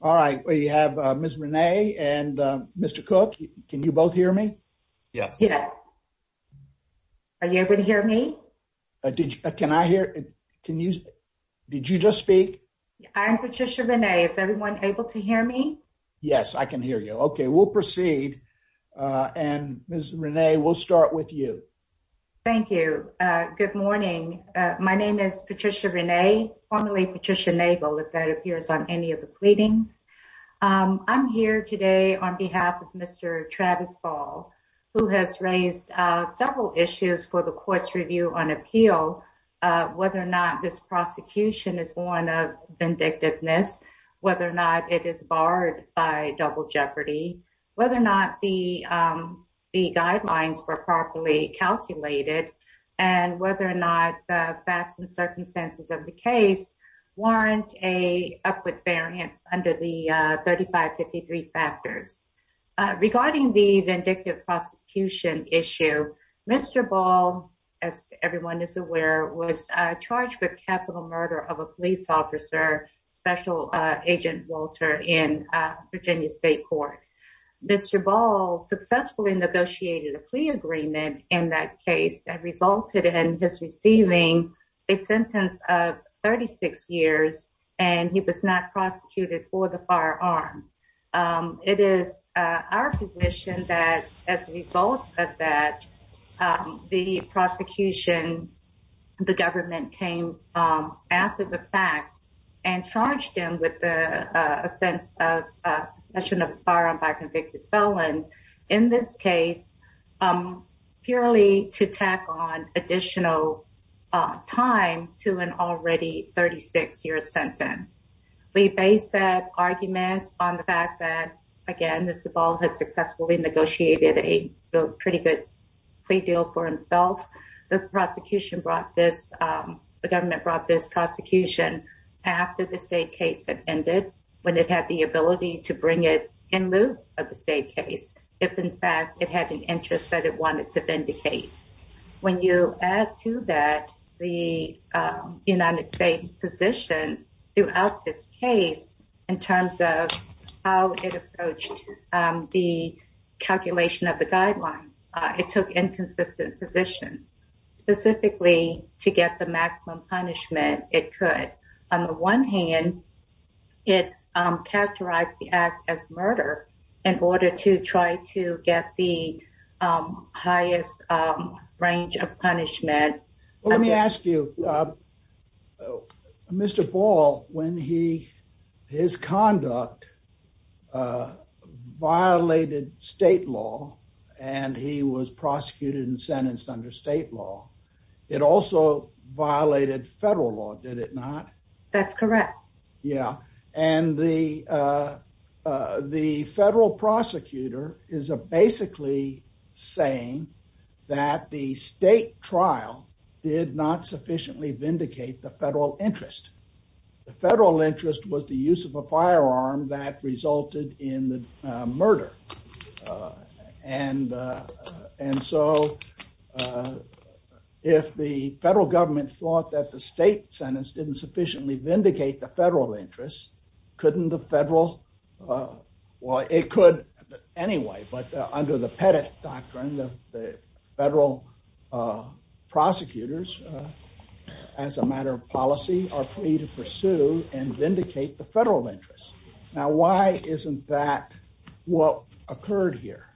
All right, we have Miss Renee and Mr. Cook. Can you both hear me? Yes. Yes. Are you able to hear me? Can I hear? Can you? Did you just speak? I'm Patricia Renee. Is everyone able to hear me? Yes, I can hear you. Okay, we'll proceed. Uh, and Miss Renee, we'll start with you. Thank you. Good morning. My name is Renee. I'm also known as Julie, Patricia Naval. If that appears on any of the pleadings, um, I'm here today on behalf of Mr. Travis Ball, who has raised several issues for the course review on appeal, uh, whether or not this prosecution is born of vindictiveness, whether or not it is barred by double jeopardy, whether or not the, um, the guidelines were properly calculated and whether or not the facts and circumstances of the case. Warrant a upward variance under the 35 53 factors regarding the vindictive prosecution issue. Mr Ball, as everyone is aware, was charged with capital murder of a police officer, Special Agent Walter in Virginia State Court. Mr Ball successfully negotiated a plea agreement in that case that resulted in his receiving a sentence of 36 years, and he was not prosecuted for the firearm. Um, it is our position that as a result of that, um, the prosecution, the government came, um, after the fact and charged him with the offense of possession of firearm by convicted felon in this case, um, purely to tack on additional, uh, time to an already 36 year sentence. We base that argument on the fact that again, Mr Ball has successfully negotiated a pretty good plea deal for himself. The prosecution brought this, um, the government brought this prosecution after the state case that ended when it had the ability to bring it in lieu of the state case, if in fact it had an interest that it wanted to vindicate. When you add to that the United States position throughout this case in terms of how it approached the calculation of the guidelines, it took inconsistent positions specifically to get the maximum punishment it could. On the one hand, it characterized the act as murder in order to try to get the highest range of punishment. Let me ask you, Mr Ball, when he his conduct, uh, violated state law, and he was prosecuted and sentenced under state law, it also violated federal law. Did it not? That's correct. Yeah. And the, uh, uh, the federal prosecutor is a basically saying that the state trial did not sufficiently vindicate the federal interest. The federal interest was the use of a firearm that resulted in the murder. And, uh, and so, uh, if the federal government thought that the state sentence didn't sufficiently vindicate the federal interest, couldn't the federal, uh, well, it could anyway, but, uh, under the Pettit doctrine, the, the federal, uh, prosecutors, uh, as a matter of policy are free to pursue and vindicate the federal interest. Now, why isn't that what occurred here?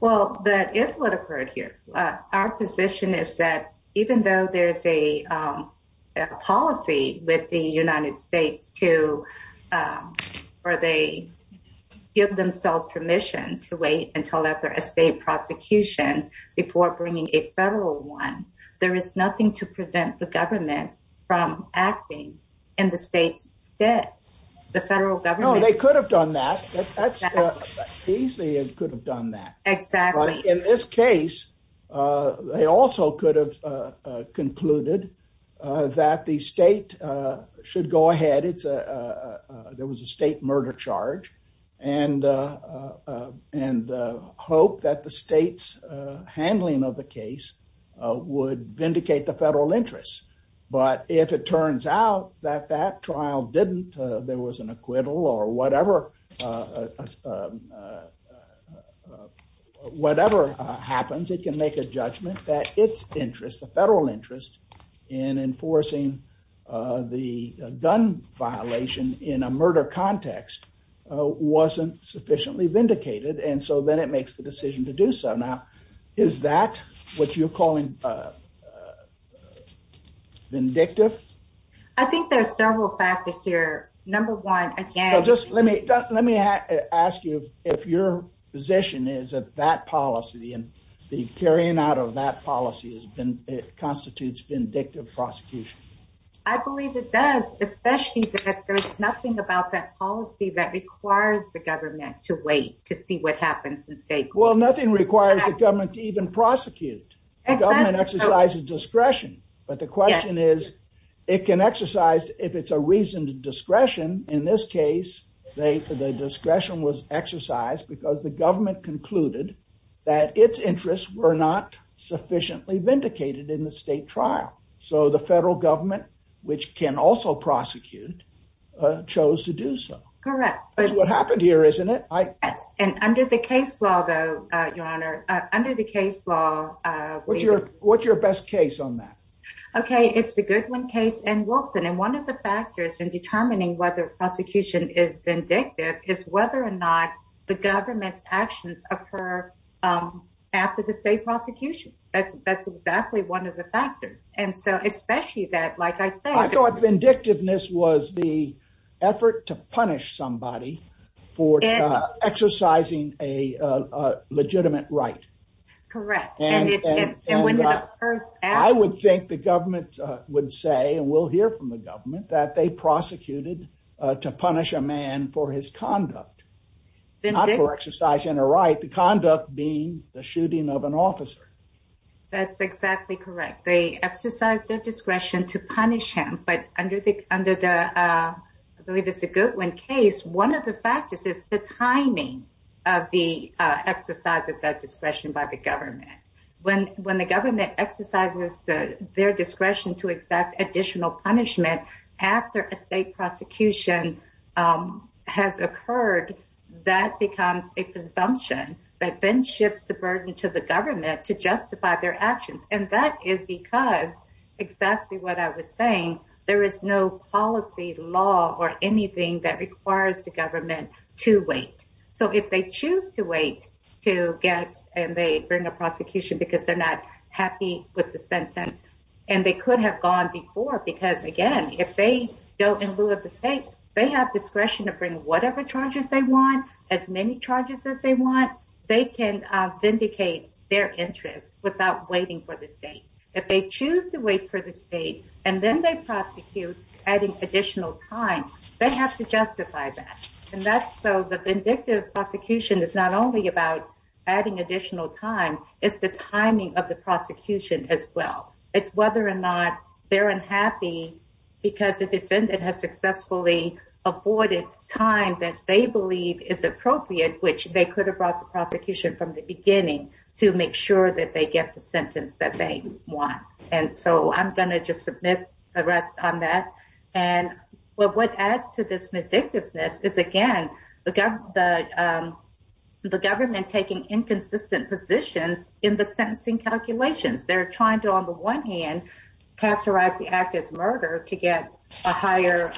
Well, that is what occurred here. Our position is that even though there's a, um, a policy with the United States to, um, or they give themselves permission to wait until after a state prosecution before bringing a federal one, there is nothing to prevent the government from acting in the state's stead. The federal government, they could have done that easily and could have done that. Exactly. In this case, uh, they also could have, uh, uh, concluded, uh, that the state, uh, should go ahead. It's, uh, uh, uh, there was a state murder charge and, uh, uh, and, uh, hope that the state's, uh, handling of the case, uh, would vindicate the federal interest. But if it turns out that that trial didn't, uh, there was an acquittal or whatever, uh, uh, uh, uh, uh, whatever, uh, happens, it can make a judgment that its interest, the federal interest in enforcing, uh, the, uh, gun violation in a murder context, uh, wasn't sufficiently vindicated and so then it makes the decision to do so. Now, is that what you're calling, uh, uh, uh, vindictive? I think there's several factors here. Number one, again, just let me, let me ask you if your position is that that policy and the carrying out of that policy has been, it constitutes vindictive prosecution. I believe it does, especially that there's nothing about that policy that requires the government to wait to see what happens in state court. Well, nothing requires the government to even prosecute. The government exercises discretion, but the question is, it can exercise, if it's a reason to discretion, in this case, they, the discretion was exercised because the government concluded that its interests were not sufficiently vindicated in the state trial. So, the federal government, which can also prosecute, uh, chose to do so. Correct. That's what happened here, isn't it? I, and under the case law, though, uh, your honor, uh, under the case law, uh, what's your, what's your best case on that? Okay, it's the Goodwin case and Wilson, and one of the factors in determining whether prosecution is vindictive is whether or not the government's actions occur, um, after the state prosecution. That's, that's exactly one of the factors. And so, especially that, like I said, I thought vindictiveness was the effort to punish somebody for exercising a legitimate right. Correct. And I would think the government would say, and we'll hear from the government that they prosecuted to punish a man for his conduct. Not for exercising a right, the conduct being the shooting of an officer. That's exactly correct. They exercise their discretion to punish him, but under the, under the, uh, I believe it's a Goodwin case. One of the factors is the timing of the exercise of that discretion by the government. When, when the government exercises their discretion to exact additional punishment after a state prosecution has occurred, that becomes a presumption that then shifts the burden to the government to justify their actions. And that is because exactly what I was saying, there is no policy law or anything that requires the government to wait. So, if they choose to wait to get, and they bring a prosecution because they're not happy with the sentence. And they could have gone before, because again, if they go in lieu of the state, they have discretion to bring whatever charges they want as many charges as they want. They can vindicate their interest without waiting for the state. If they choose to wait for the state, and then they prosecute adding additional time, they have to justify that. And that's so the vindictive prosecution is not only about adding additional time, it's the timing of the prosecution as well. It's whether or not they're unhappy because the defendant has successfully avoided time that they believe is appropriate, which they could have brought the prosecution from the beginning to make sure that they get the sentence that they want. And so I'm going to just submit the rest on that. And what adds to this vindictiveness is, again, the government taking inconsistent positions in the sentencing calculations. They're trying to, on the one hand, characterize the act as murder to get a higher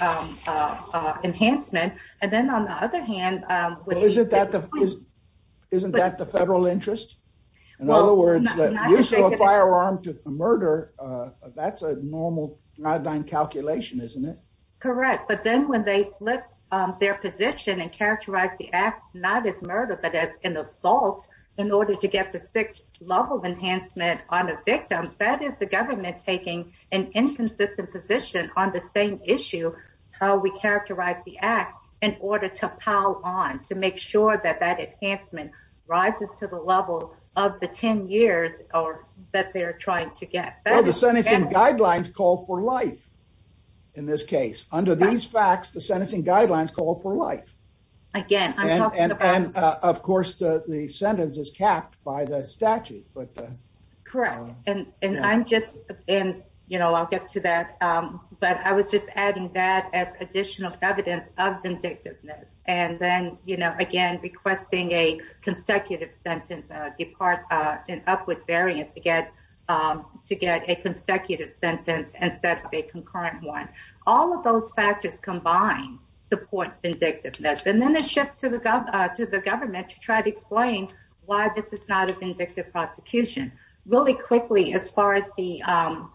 enhancement. And then, on the other hand, Isn't that the federal interest? In other words, the use of a firearm to murder, that's a normal Caledonian calculation, isn't it? Correct. But then when they flip their position and characterize the act, not as murder, but as an assault in order to get the sixth level enhancement on a victim, that is the government taking an inconsistent position on the same issue, how we characterize the act in order to pile on, to make sure that that enhancement rises to the level of the 10 years that they're trying to get. Well, the sentencing guidelines call for life in this case. Under these facts, the sentencing guidelines call for life. Again, I'm talking about... And, of course, the sentence is capped by the statute, but... ...instead of a concurrent one. All of those factors combined support vindictiveness. And then it shifts to the government to try to explain why this is not a vindictive prosecution. Really quickly, as far as the guidelines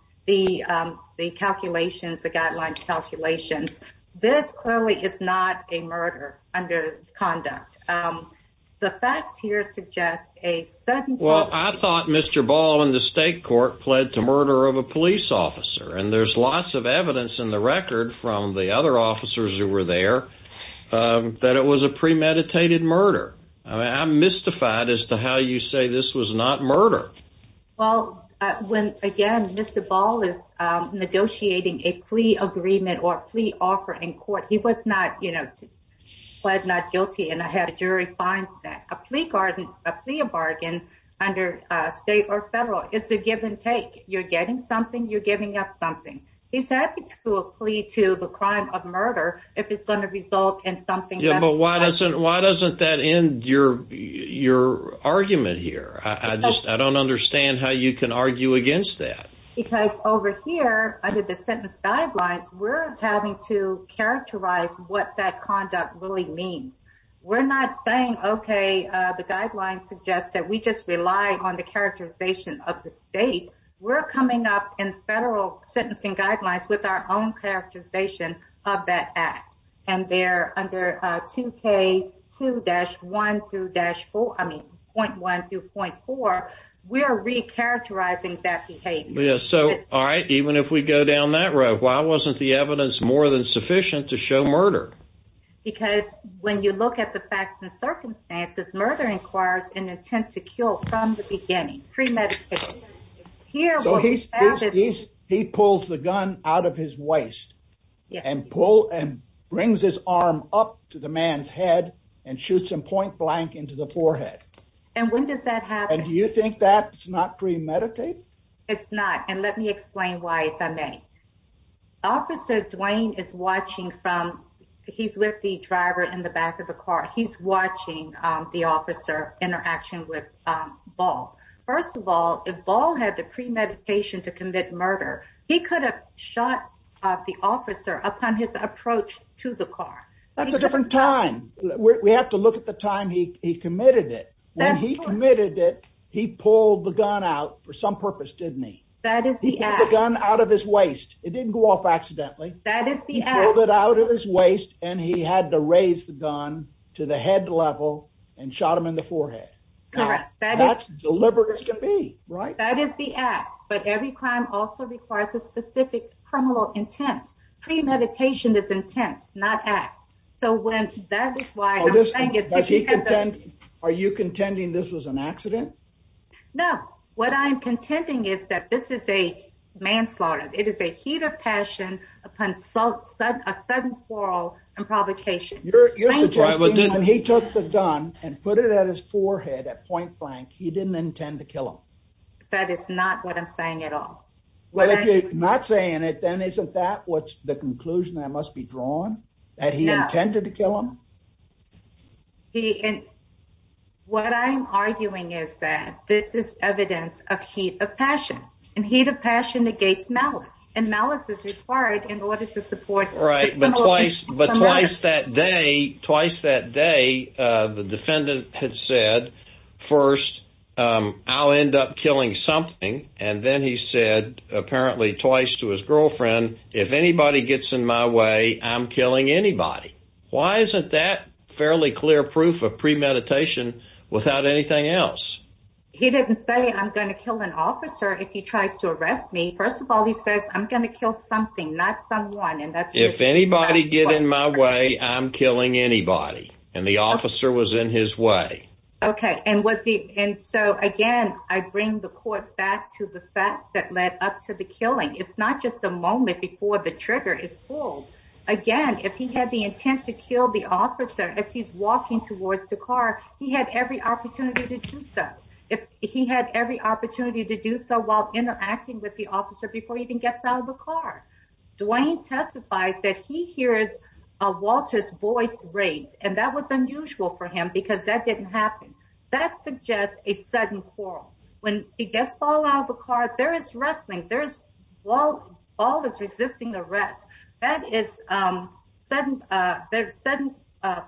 calculations, this clearly is not a murder under conduct. The facts here suggest a sudden... Well, I thought Mr. Ball in the state court pled to murder of a police officer. And there's lots of evidence in the record from the other officers who were there that it was a premeditated murder. I'm mystified as to how you say this was not murder. Well, when, again, Mr. Ball is negotiating a plea agreement or a plea offer in court, he was not, you know, pled not guilty, and I had a jury find that. A plea bargain under state or federal, it's a give and take. You're getting something, you're giving up something. He's happy to plead to the crime of murder if it's going to result in something... Yeah, but why doesn't that end your argument here? I don't understand how you can argue against that. Because over here, under the sentence guidelines, we're having to characterize what that conduct really means. We're not saying, okay, the guidelines suggest that we just rely on the characterization of the state. We're coming up in federal sentencing guidelines with our own characterization of that act. And they're under 2K2-1-4, I mean, 0.1-0.4, we are recharacterizing that behavior. So, all right, even if we go down that road, why wasn't the evidence more than sufficient to show murder? Because when you look at the facts and circumstances, murder requires an attempt to kill from the beginning, premeditated. So he pulls the gun out of his waist and brings his arm up to the man's head and shoots him point blank into the forehead. And when does that happen? And do you think that's not premeditated? It's not, and let me explain why, if I may. Officer Dwayne is watching from, he's with the driver in the back of the car, he's watching the officer interaction with Ball. First of all, if Ball had the premeditation to commit murder, he could have shot the officer upon his approach to the car. That's a different time. We have to look at the time he committed it. When he committed it, he pulled the gun out for some purpose, didn't he? He pulled the gun out of his waist. It didn't go off accidentally. He pulled it out of his waist and he had to raise the gun to the head level and shot him in the forehead. That's deliberate as can be, right? That is the act, but every crime also requires a specific criminal intent. Premeditation is intent, not act. So that is why I'm saying it. Are you contending this was an accident? No, what I'm contending is that this is a manslaughter. It is a heat of passion upon a sudden quarrel and provocation. You're suggesting that when he took the gun and put it at his forehead at point blank, he didn't intend to kill him. That is not what I'm saying at all. If you're not saying it, then isn't that the conclusion that must be drawn? That he intended to kill him? No. What I'm arguing is that this is evidence of heat of passion, and heat of passion negates malice, and malice is required in order to support the criminal intent. Right, but twice that day, the defendant had said, first, I'll end up killing something, and then he said, apparently twice to his girlfriend, if anybody gets in my way, I'm killing anybody. Why isn't that fairly clear proof of premeditation without anything else? He didn't say I'm going to kill an officer if he tries to arrest me. First of all, he says I'm going to kill something, not someone. If anybody gets in my way, I'm killing anybody, and the officer was in his way. Okay, and so again, I bring the court back to the fact that led up to the killing. It's not just the moment before the trigger is pulled. Again, if he had the intent to kill the officer as he's walking towards the car, he had every opportunity to do so. He had every opportunity to do so while interacting with the officer before he even gets out of the car. Dwayne testifies that he hears Walter's voice raised, and that was unusual for him because that didn't happen. That suggests a sudden quarrel. When he gets out of the car, there is wrestling. Walt is resisting the arrest. That is sudden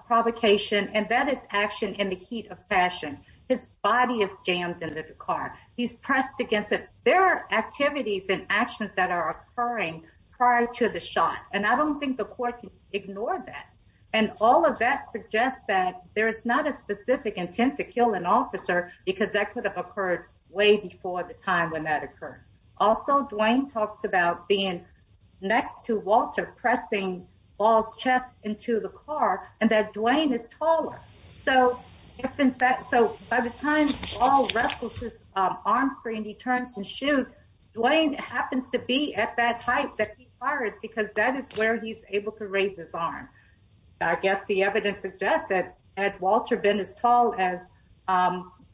provocation, and that is action in the heat of fashion. His body is jammed into the car. He's pressed against it. There are activities and actions that are occurring prior to the shot, and I don't think the court can ignore that. All of that suggests that there is not a specific intent to kill an officer because that could have occurred way before the time when that occurred. Also, Dwayne talks about being next to Walter, pressing Walt's chest into the car, and that Dwayne is taller. By the time Walt wrestles his arm free and he turns to shoot, Dwayne happens to be at that height that he fires because that is where he's able to raise his arm. I guess the evidence suggests that had Walter been as tall as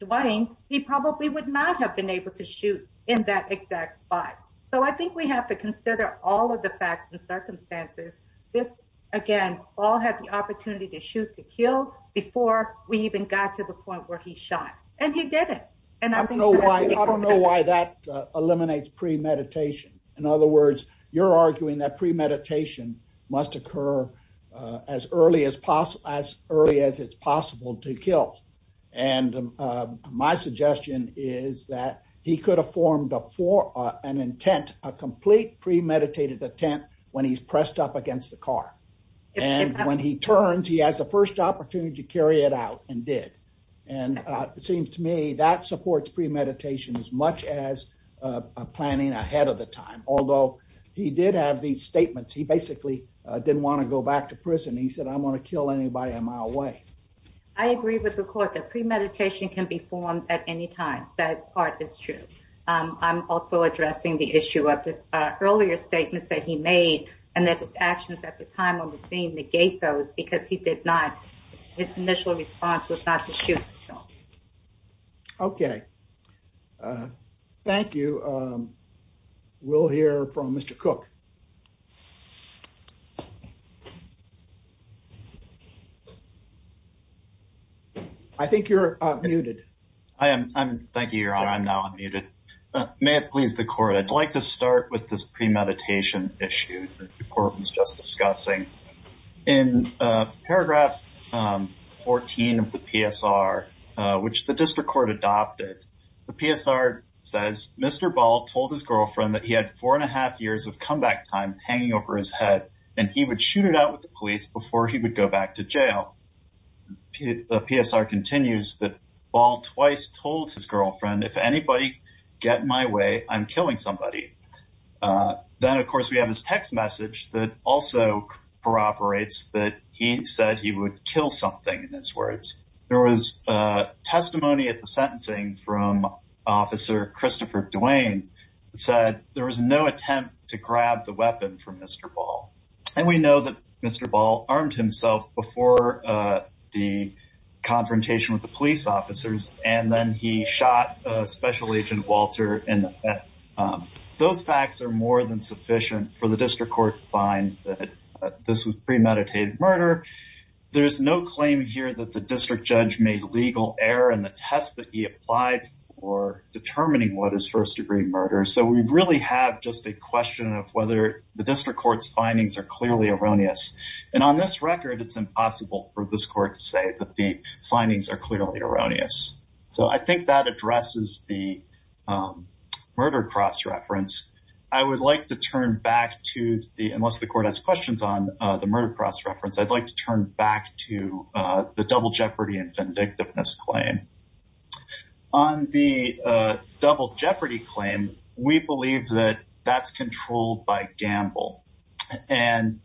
Dwayne, he probably would not have been able to shoot in that exact spot. I think we have to consider all of the facts and circumstances. This, again, all had the opportunity to shoot to kill before we even got to the point where he shot, and he didn't. I don't know why that eliminates premeditation. In other words, you're arguing that premeditation must occur as early as it's possible to kill. My suggestion is that he could have formed an intent, a complete premeditated intent, when he's pressed up against the car. When he turns, he has the first opportunity to carry it out and did. It seems to me that supports premeditation as much as planning ahead of the time, although he did have these statements. He basically didn't want to go back to prison. He said, I'm going to kill anybody a mile away. I agree with the court that premeditation can be formed at any time. That part is true. I'm also addressing the issue of the earlier statements that he made and that his actions at the time on the scene negate those because he did not. His initial response was not to shoot. Okay. Thank you. We'll hear from Mr. Cook. I think you're unmuted. I am. Thank you, Your Honor. I'm now unmuted. May it please the court, I'd like to start with this premeditation issue the court was just discussing. In paragraph 14 of the PSR, which the district court adopted, the PSR says Mr. Ball told his girlfriend that he had four and a half years of comeback time hanging over his head, and he would shoot it out with the police before he would go back to jail. The PSR continues that Ball twice told his girlfriend, if anybody get in my way, I'm killing somebody. Then, of course, we have this text message that also corroborates that he said he would kill something in his words. There was testimony at the sentencing from Officer Christopher Duane that said there was no attempt to grab the weapon from Mr. Ball. And we know that Mr. Ball armed himself before the confrontation with the police officers, and then he shot Special Agent Walter in the head. Those facts are more than sufficient for the district court to find that this was premeditated murder. There's no claim here that the district judge made legal error in the test that he applied for determining what is first degree murder. So we really have just a question of whether the district court's findings are clearly erroneous. And on this record, it's impossible for this court to say that the findings are clearly erroneous. So I think that addresses the murder cross-reference. I would like to turn back to the, unless the court has questions on the murder cross-reference, I'd like to turn back to the double jeopardy and vindictiveness claim. On the double jeopardy claim, we believe that that's controlled by Gamble. And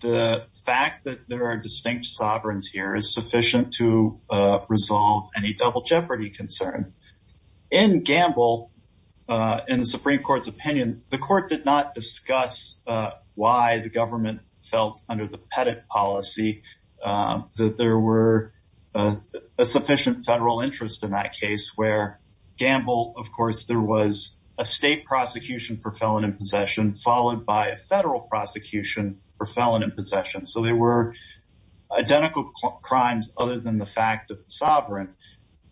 the fact that there are distinct sovereigns here is sufficient to resolve any double jeopardy concern. In Gamble, in the Supreme Court's opinion, the court did not discuss why the government felt under the Pettit policy that there were a sufficient federal interest in that case, where Gamble, of course, there was a state prosecution for felon in possession, followed by a federal prosecution for felon in possession. So they were identical crimes other than the fact of the sovereign.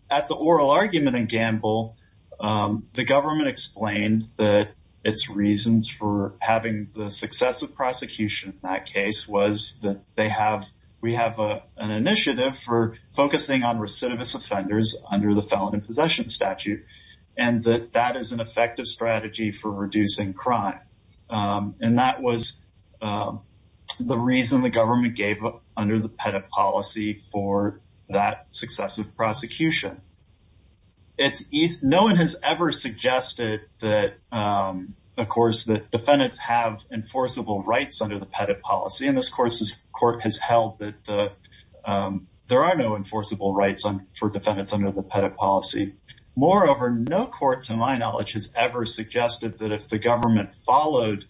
At the oral argument in Gamble, the government explained that its reasons for having the successive prosecution in that case was that they have, we have an initiative for focusing on recidivist offenders under the felon in possession statute, and that that is an effective strategy for reducing crime. And that was the reason the government gave up under the Pettit policy for that successive prosecution. No one has ever suggested that, of course, that defendants have enforceable rights under the Pettit policy. And this court has held that there are no enforceable rights for defendants under the Pettit policy. Moreover, no court, to my knowledge, has ever suggested that if the government followed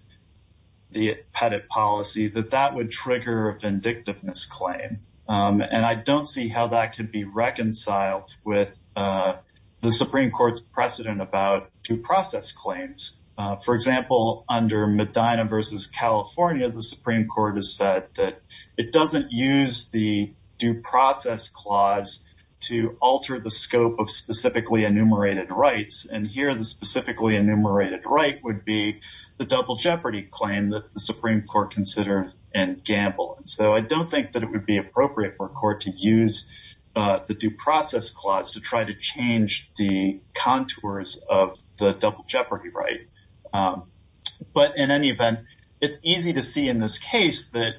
the Pettit policy, that that would trigger a vindictiveness claim. And I don't see how that could be reconciled with the Supreme Court's precedent about due process claims. For example, under Medina v. California, the Supreme Court has said that it doesn't use the due process clause to alter the scope of specifically enumerated rights. And here, the specifically enumerated right would be the double jeopardy claim that the Supreme Court considered in Gamble. And so I don't think that it would be appropriate for a court to use the due process clause to try to change the contours of the double jeopardy right. But in any event, it's easy to see in this case that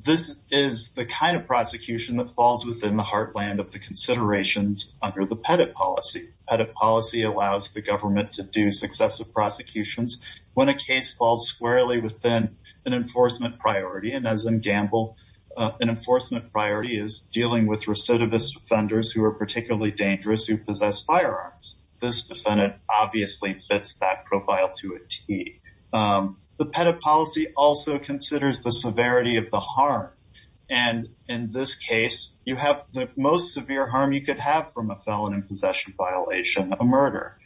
this is the kind of prosecution that falls within the heartland of the considerations under the Pettit policy. The Pettit policy allows the government to do successive prosecutions when a case falls squarely within an enforcement priority. And as in Gamble, an enforcement priority is dealing with recidivist offenders who are particularly dangerous, who possess firearms. This defendant obviously fits that profile to a T. The Pettit policy also considers the severity of the harm. And in this case, you have the most severe harm you could have from a felon in possession violation, a murder.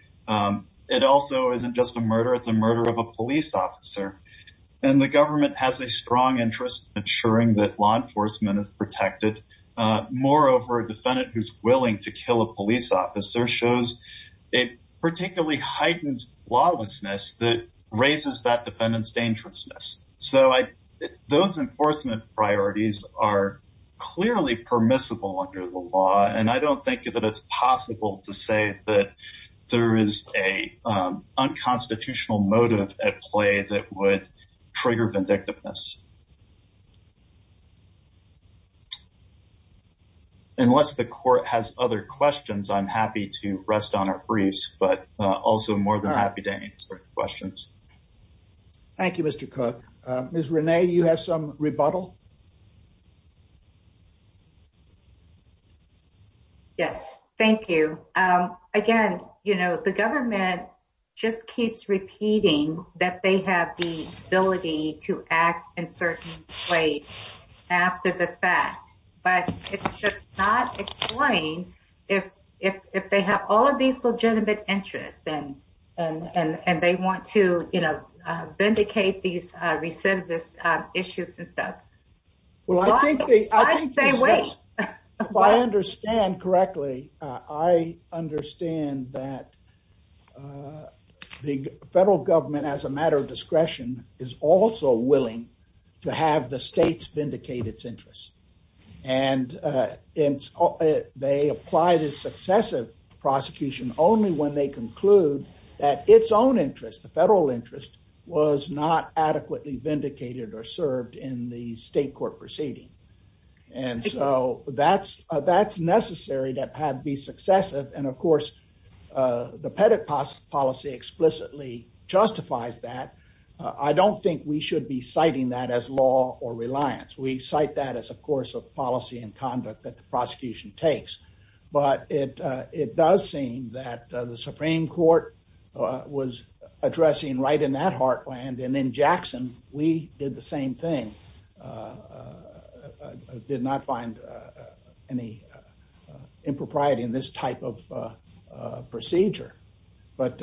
It also isn't just a murder, it's a murder of a police officer. And the government has a strong interest in ensuring that law enforcement is protected. Moreover, a defendant who's willing to kill a police officer shows a particularly heightened lawlessness that raises that defendant's dangerousness. So those enforcement priorities are clearly permissible under the law. And I don't think that it's possible to say that there is a unconstitutional motive at play that would trigger vindictiveness. Unless the court has other questions, I'm happy to rest on our briefs, but also more than happy to answer questions. Thank you, Mr. Cook. Ms. Renee, you have some rebuttal? Yes, thank you. Again, you know, the government just keeps repeating that they have the ability to act in certain ways after the fact. It just does not explain if they have all of these legitimate interests and they want to, you know, vindicate these recidivist issues and stuff. Well, I think they... If I understand correctly, I understand that the federal government, as a matter of discretion, is also willing to have the states vindicate its interests. And they apply this successive prosecution only when they conclude that its own interest, the federal interest, was not adequately vindicated or served in the state court proceeding. And so that's necessary to be successive. And of course, the Pettit policy explicitly justifies that. I don't think we should be citing that as law or reliance. We cite that as a course of policy and conduct that the prosecution takes. But it does seem that the Supreme Court was addressing right in that heartland. And in Jackson, we did the same thing. Did not find any impropriety in this type of procedure. But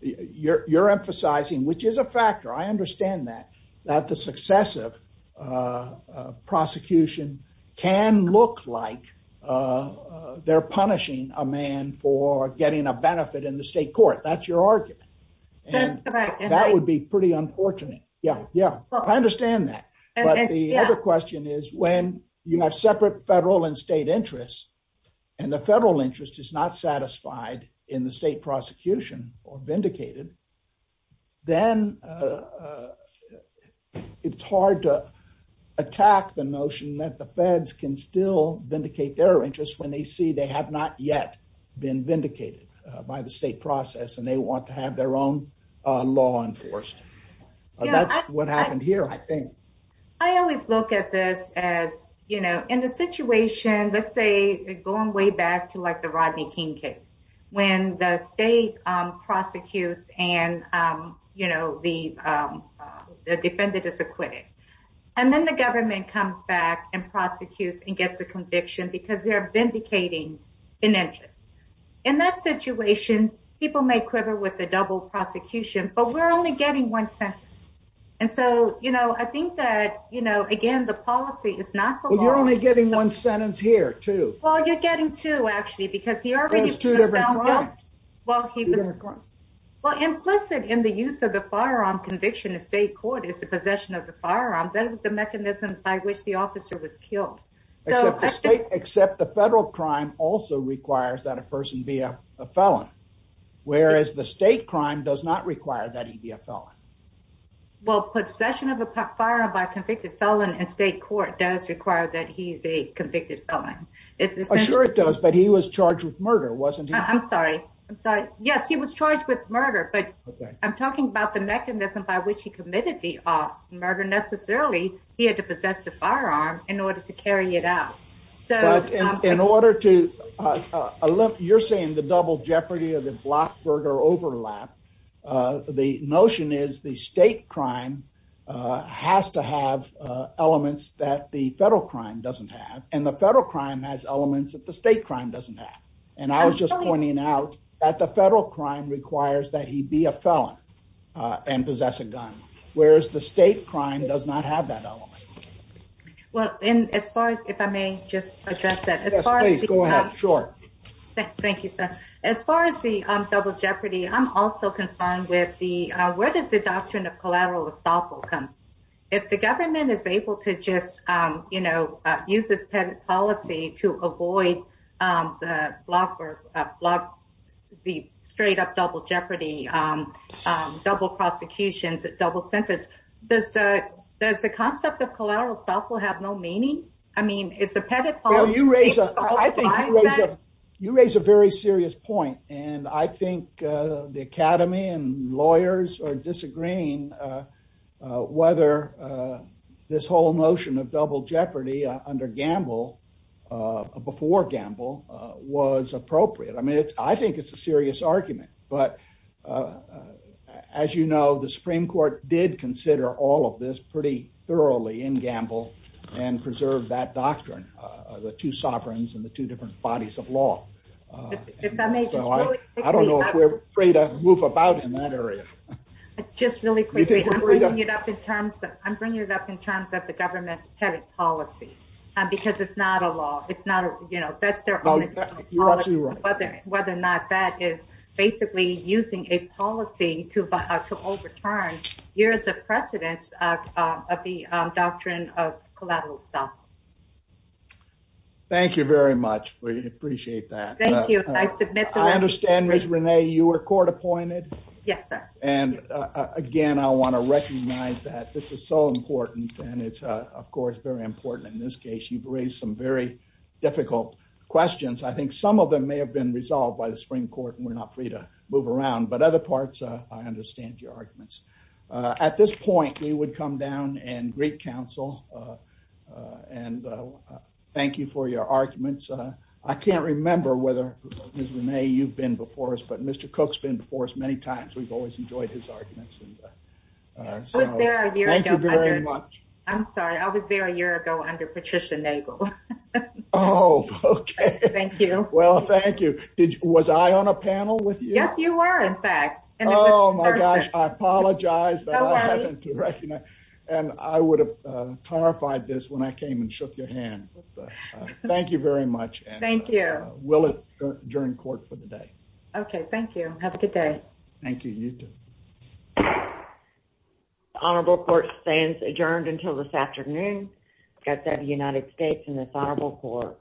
you're emphasizing, which is a factor, I understand that, that the successive prosecution can look like they're punishing a man for getting a benefit in the state court. That's your argument. That's correct. That would be pretty unfortunate. Yeah, yeah, I understand that. But the other question is, when you have separate federal and state interests, and the federal interest is not satisfied in the state prosecution or vindicated, then it's hard to attack the notion that the feds can still vindicate their interests when they see they have not yet been vindicated by the state process and they want to have their own law enforced. That's what happened here, I think. I always look at this as, you know, in a situation, let's say going way back to like the Rodney King case, when the state prosecutes and, you know, the defendant is acquitted. And then the government comes back and prosecutes and gets a conviction because they're vindicating an interest. In that situation, people may quiver with the double prosecution, but we're only getting one sentence. And so, you know, I think that, you know, again, the policy is not the law. Well, you're only getting one sentence here, too. Well, you're getting two, actually, because he already was found guilty. Well, implicit in the use of the firearm conviction in state court is the possession of the firearm. That was the mechanism by which the officer was killed. Except the federal crime also requires that a person be a felon, whereas the state crime does not require that he be a felon. Well, possession of a firearm by a convicted felon in state court does require that he's a convicted felon. Sure it does, but he was charged with murder, wasn't he? I'm sorry. I'm sorry. Yes, he was charged with murder, but I'm talking about the mechanism by which he committed the murder. Necessarily, he had to possess the firearm in order to carry it out. But in order to, you're saying the double jeopardy or the blockburger overlap, the notion is the state crime has to have elements that the federal crime doesn't have, and the federal crime has elements that the state crime doesn't have. And I was just pointing out that the federal crime requires that he be a felon and possess a gun, whereas the state crime does not have that element. Well, and as far as, if I may just address that. Yes, please, go ahead. Sure. Thank you, sir. As far as the double jeopardy, I'm also concerned with the, where does the doctrine of collateral estoppel come? If the government is able to just, you know, use this policy to avoid the straight up double jeopardy, double prosecution, double sentence, does the concept of collateral estoppel have no meaning? I mean, it's a pettit policy. You raise a very serious point, and I think the academy and lawyers are disagreeing whether this whole notion of double jeopardy under Gamble, before Gamble, was appropriate. I mean, I think it's a serious argument. But as you know, the Supreme Court did consider all of this pretty thoroughly in Gamble, and preserve that doctrine, the two sovereigns and the two different bodies of law. If I may just really quickly. I don't know if we're free to move about in that area. Just really quickly, I'm bringing it up in terms of the government's pettit policy, because it's not a law. It's not a, you know, that's their own policy. You're absolutely right. Whether or not that is basically using a policy to overturn years of precedence of the doctrine of collateral estoppel. Thank you very much. We appreciate that. Thank you. I understand, Ms. Renee, you were court appointed. Yes, sir. And again, I want to recognize that this is so important. And it's, of course, very important. In this case, you've raised some very difficult questions. I think some of them may have been resolved by the Supreme Court, and we're not free to move around. But other parts, I understand your arguments. At this point, we would come down and greet counsel and thank you for your arguments. I can't remember whether, Ms. Renee, you've been before us, but Mr. Cook's been before us many times. We've always enjoyed his arguments. I was there a year ago. Thank you very much. I'm sorry. I was there a year ago under Patricia Nagel. Oh, okay. Thank you. Well, thank you. Was I on a panel with you? Yes, you were, in fact. Oh, my gosh. I apologize that I haven't recognized. And I would have clarified this when I came and shook your hand. Thank you very much. Thank you. We'll adjourn court for the day. Okay. Thank you. Have a good day. Thank you. You, too. The Honorable Court stands adjourned until this afternoon. That's that of the United States and this Honorable Court.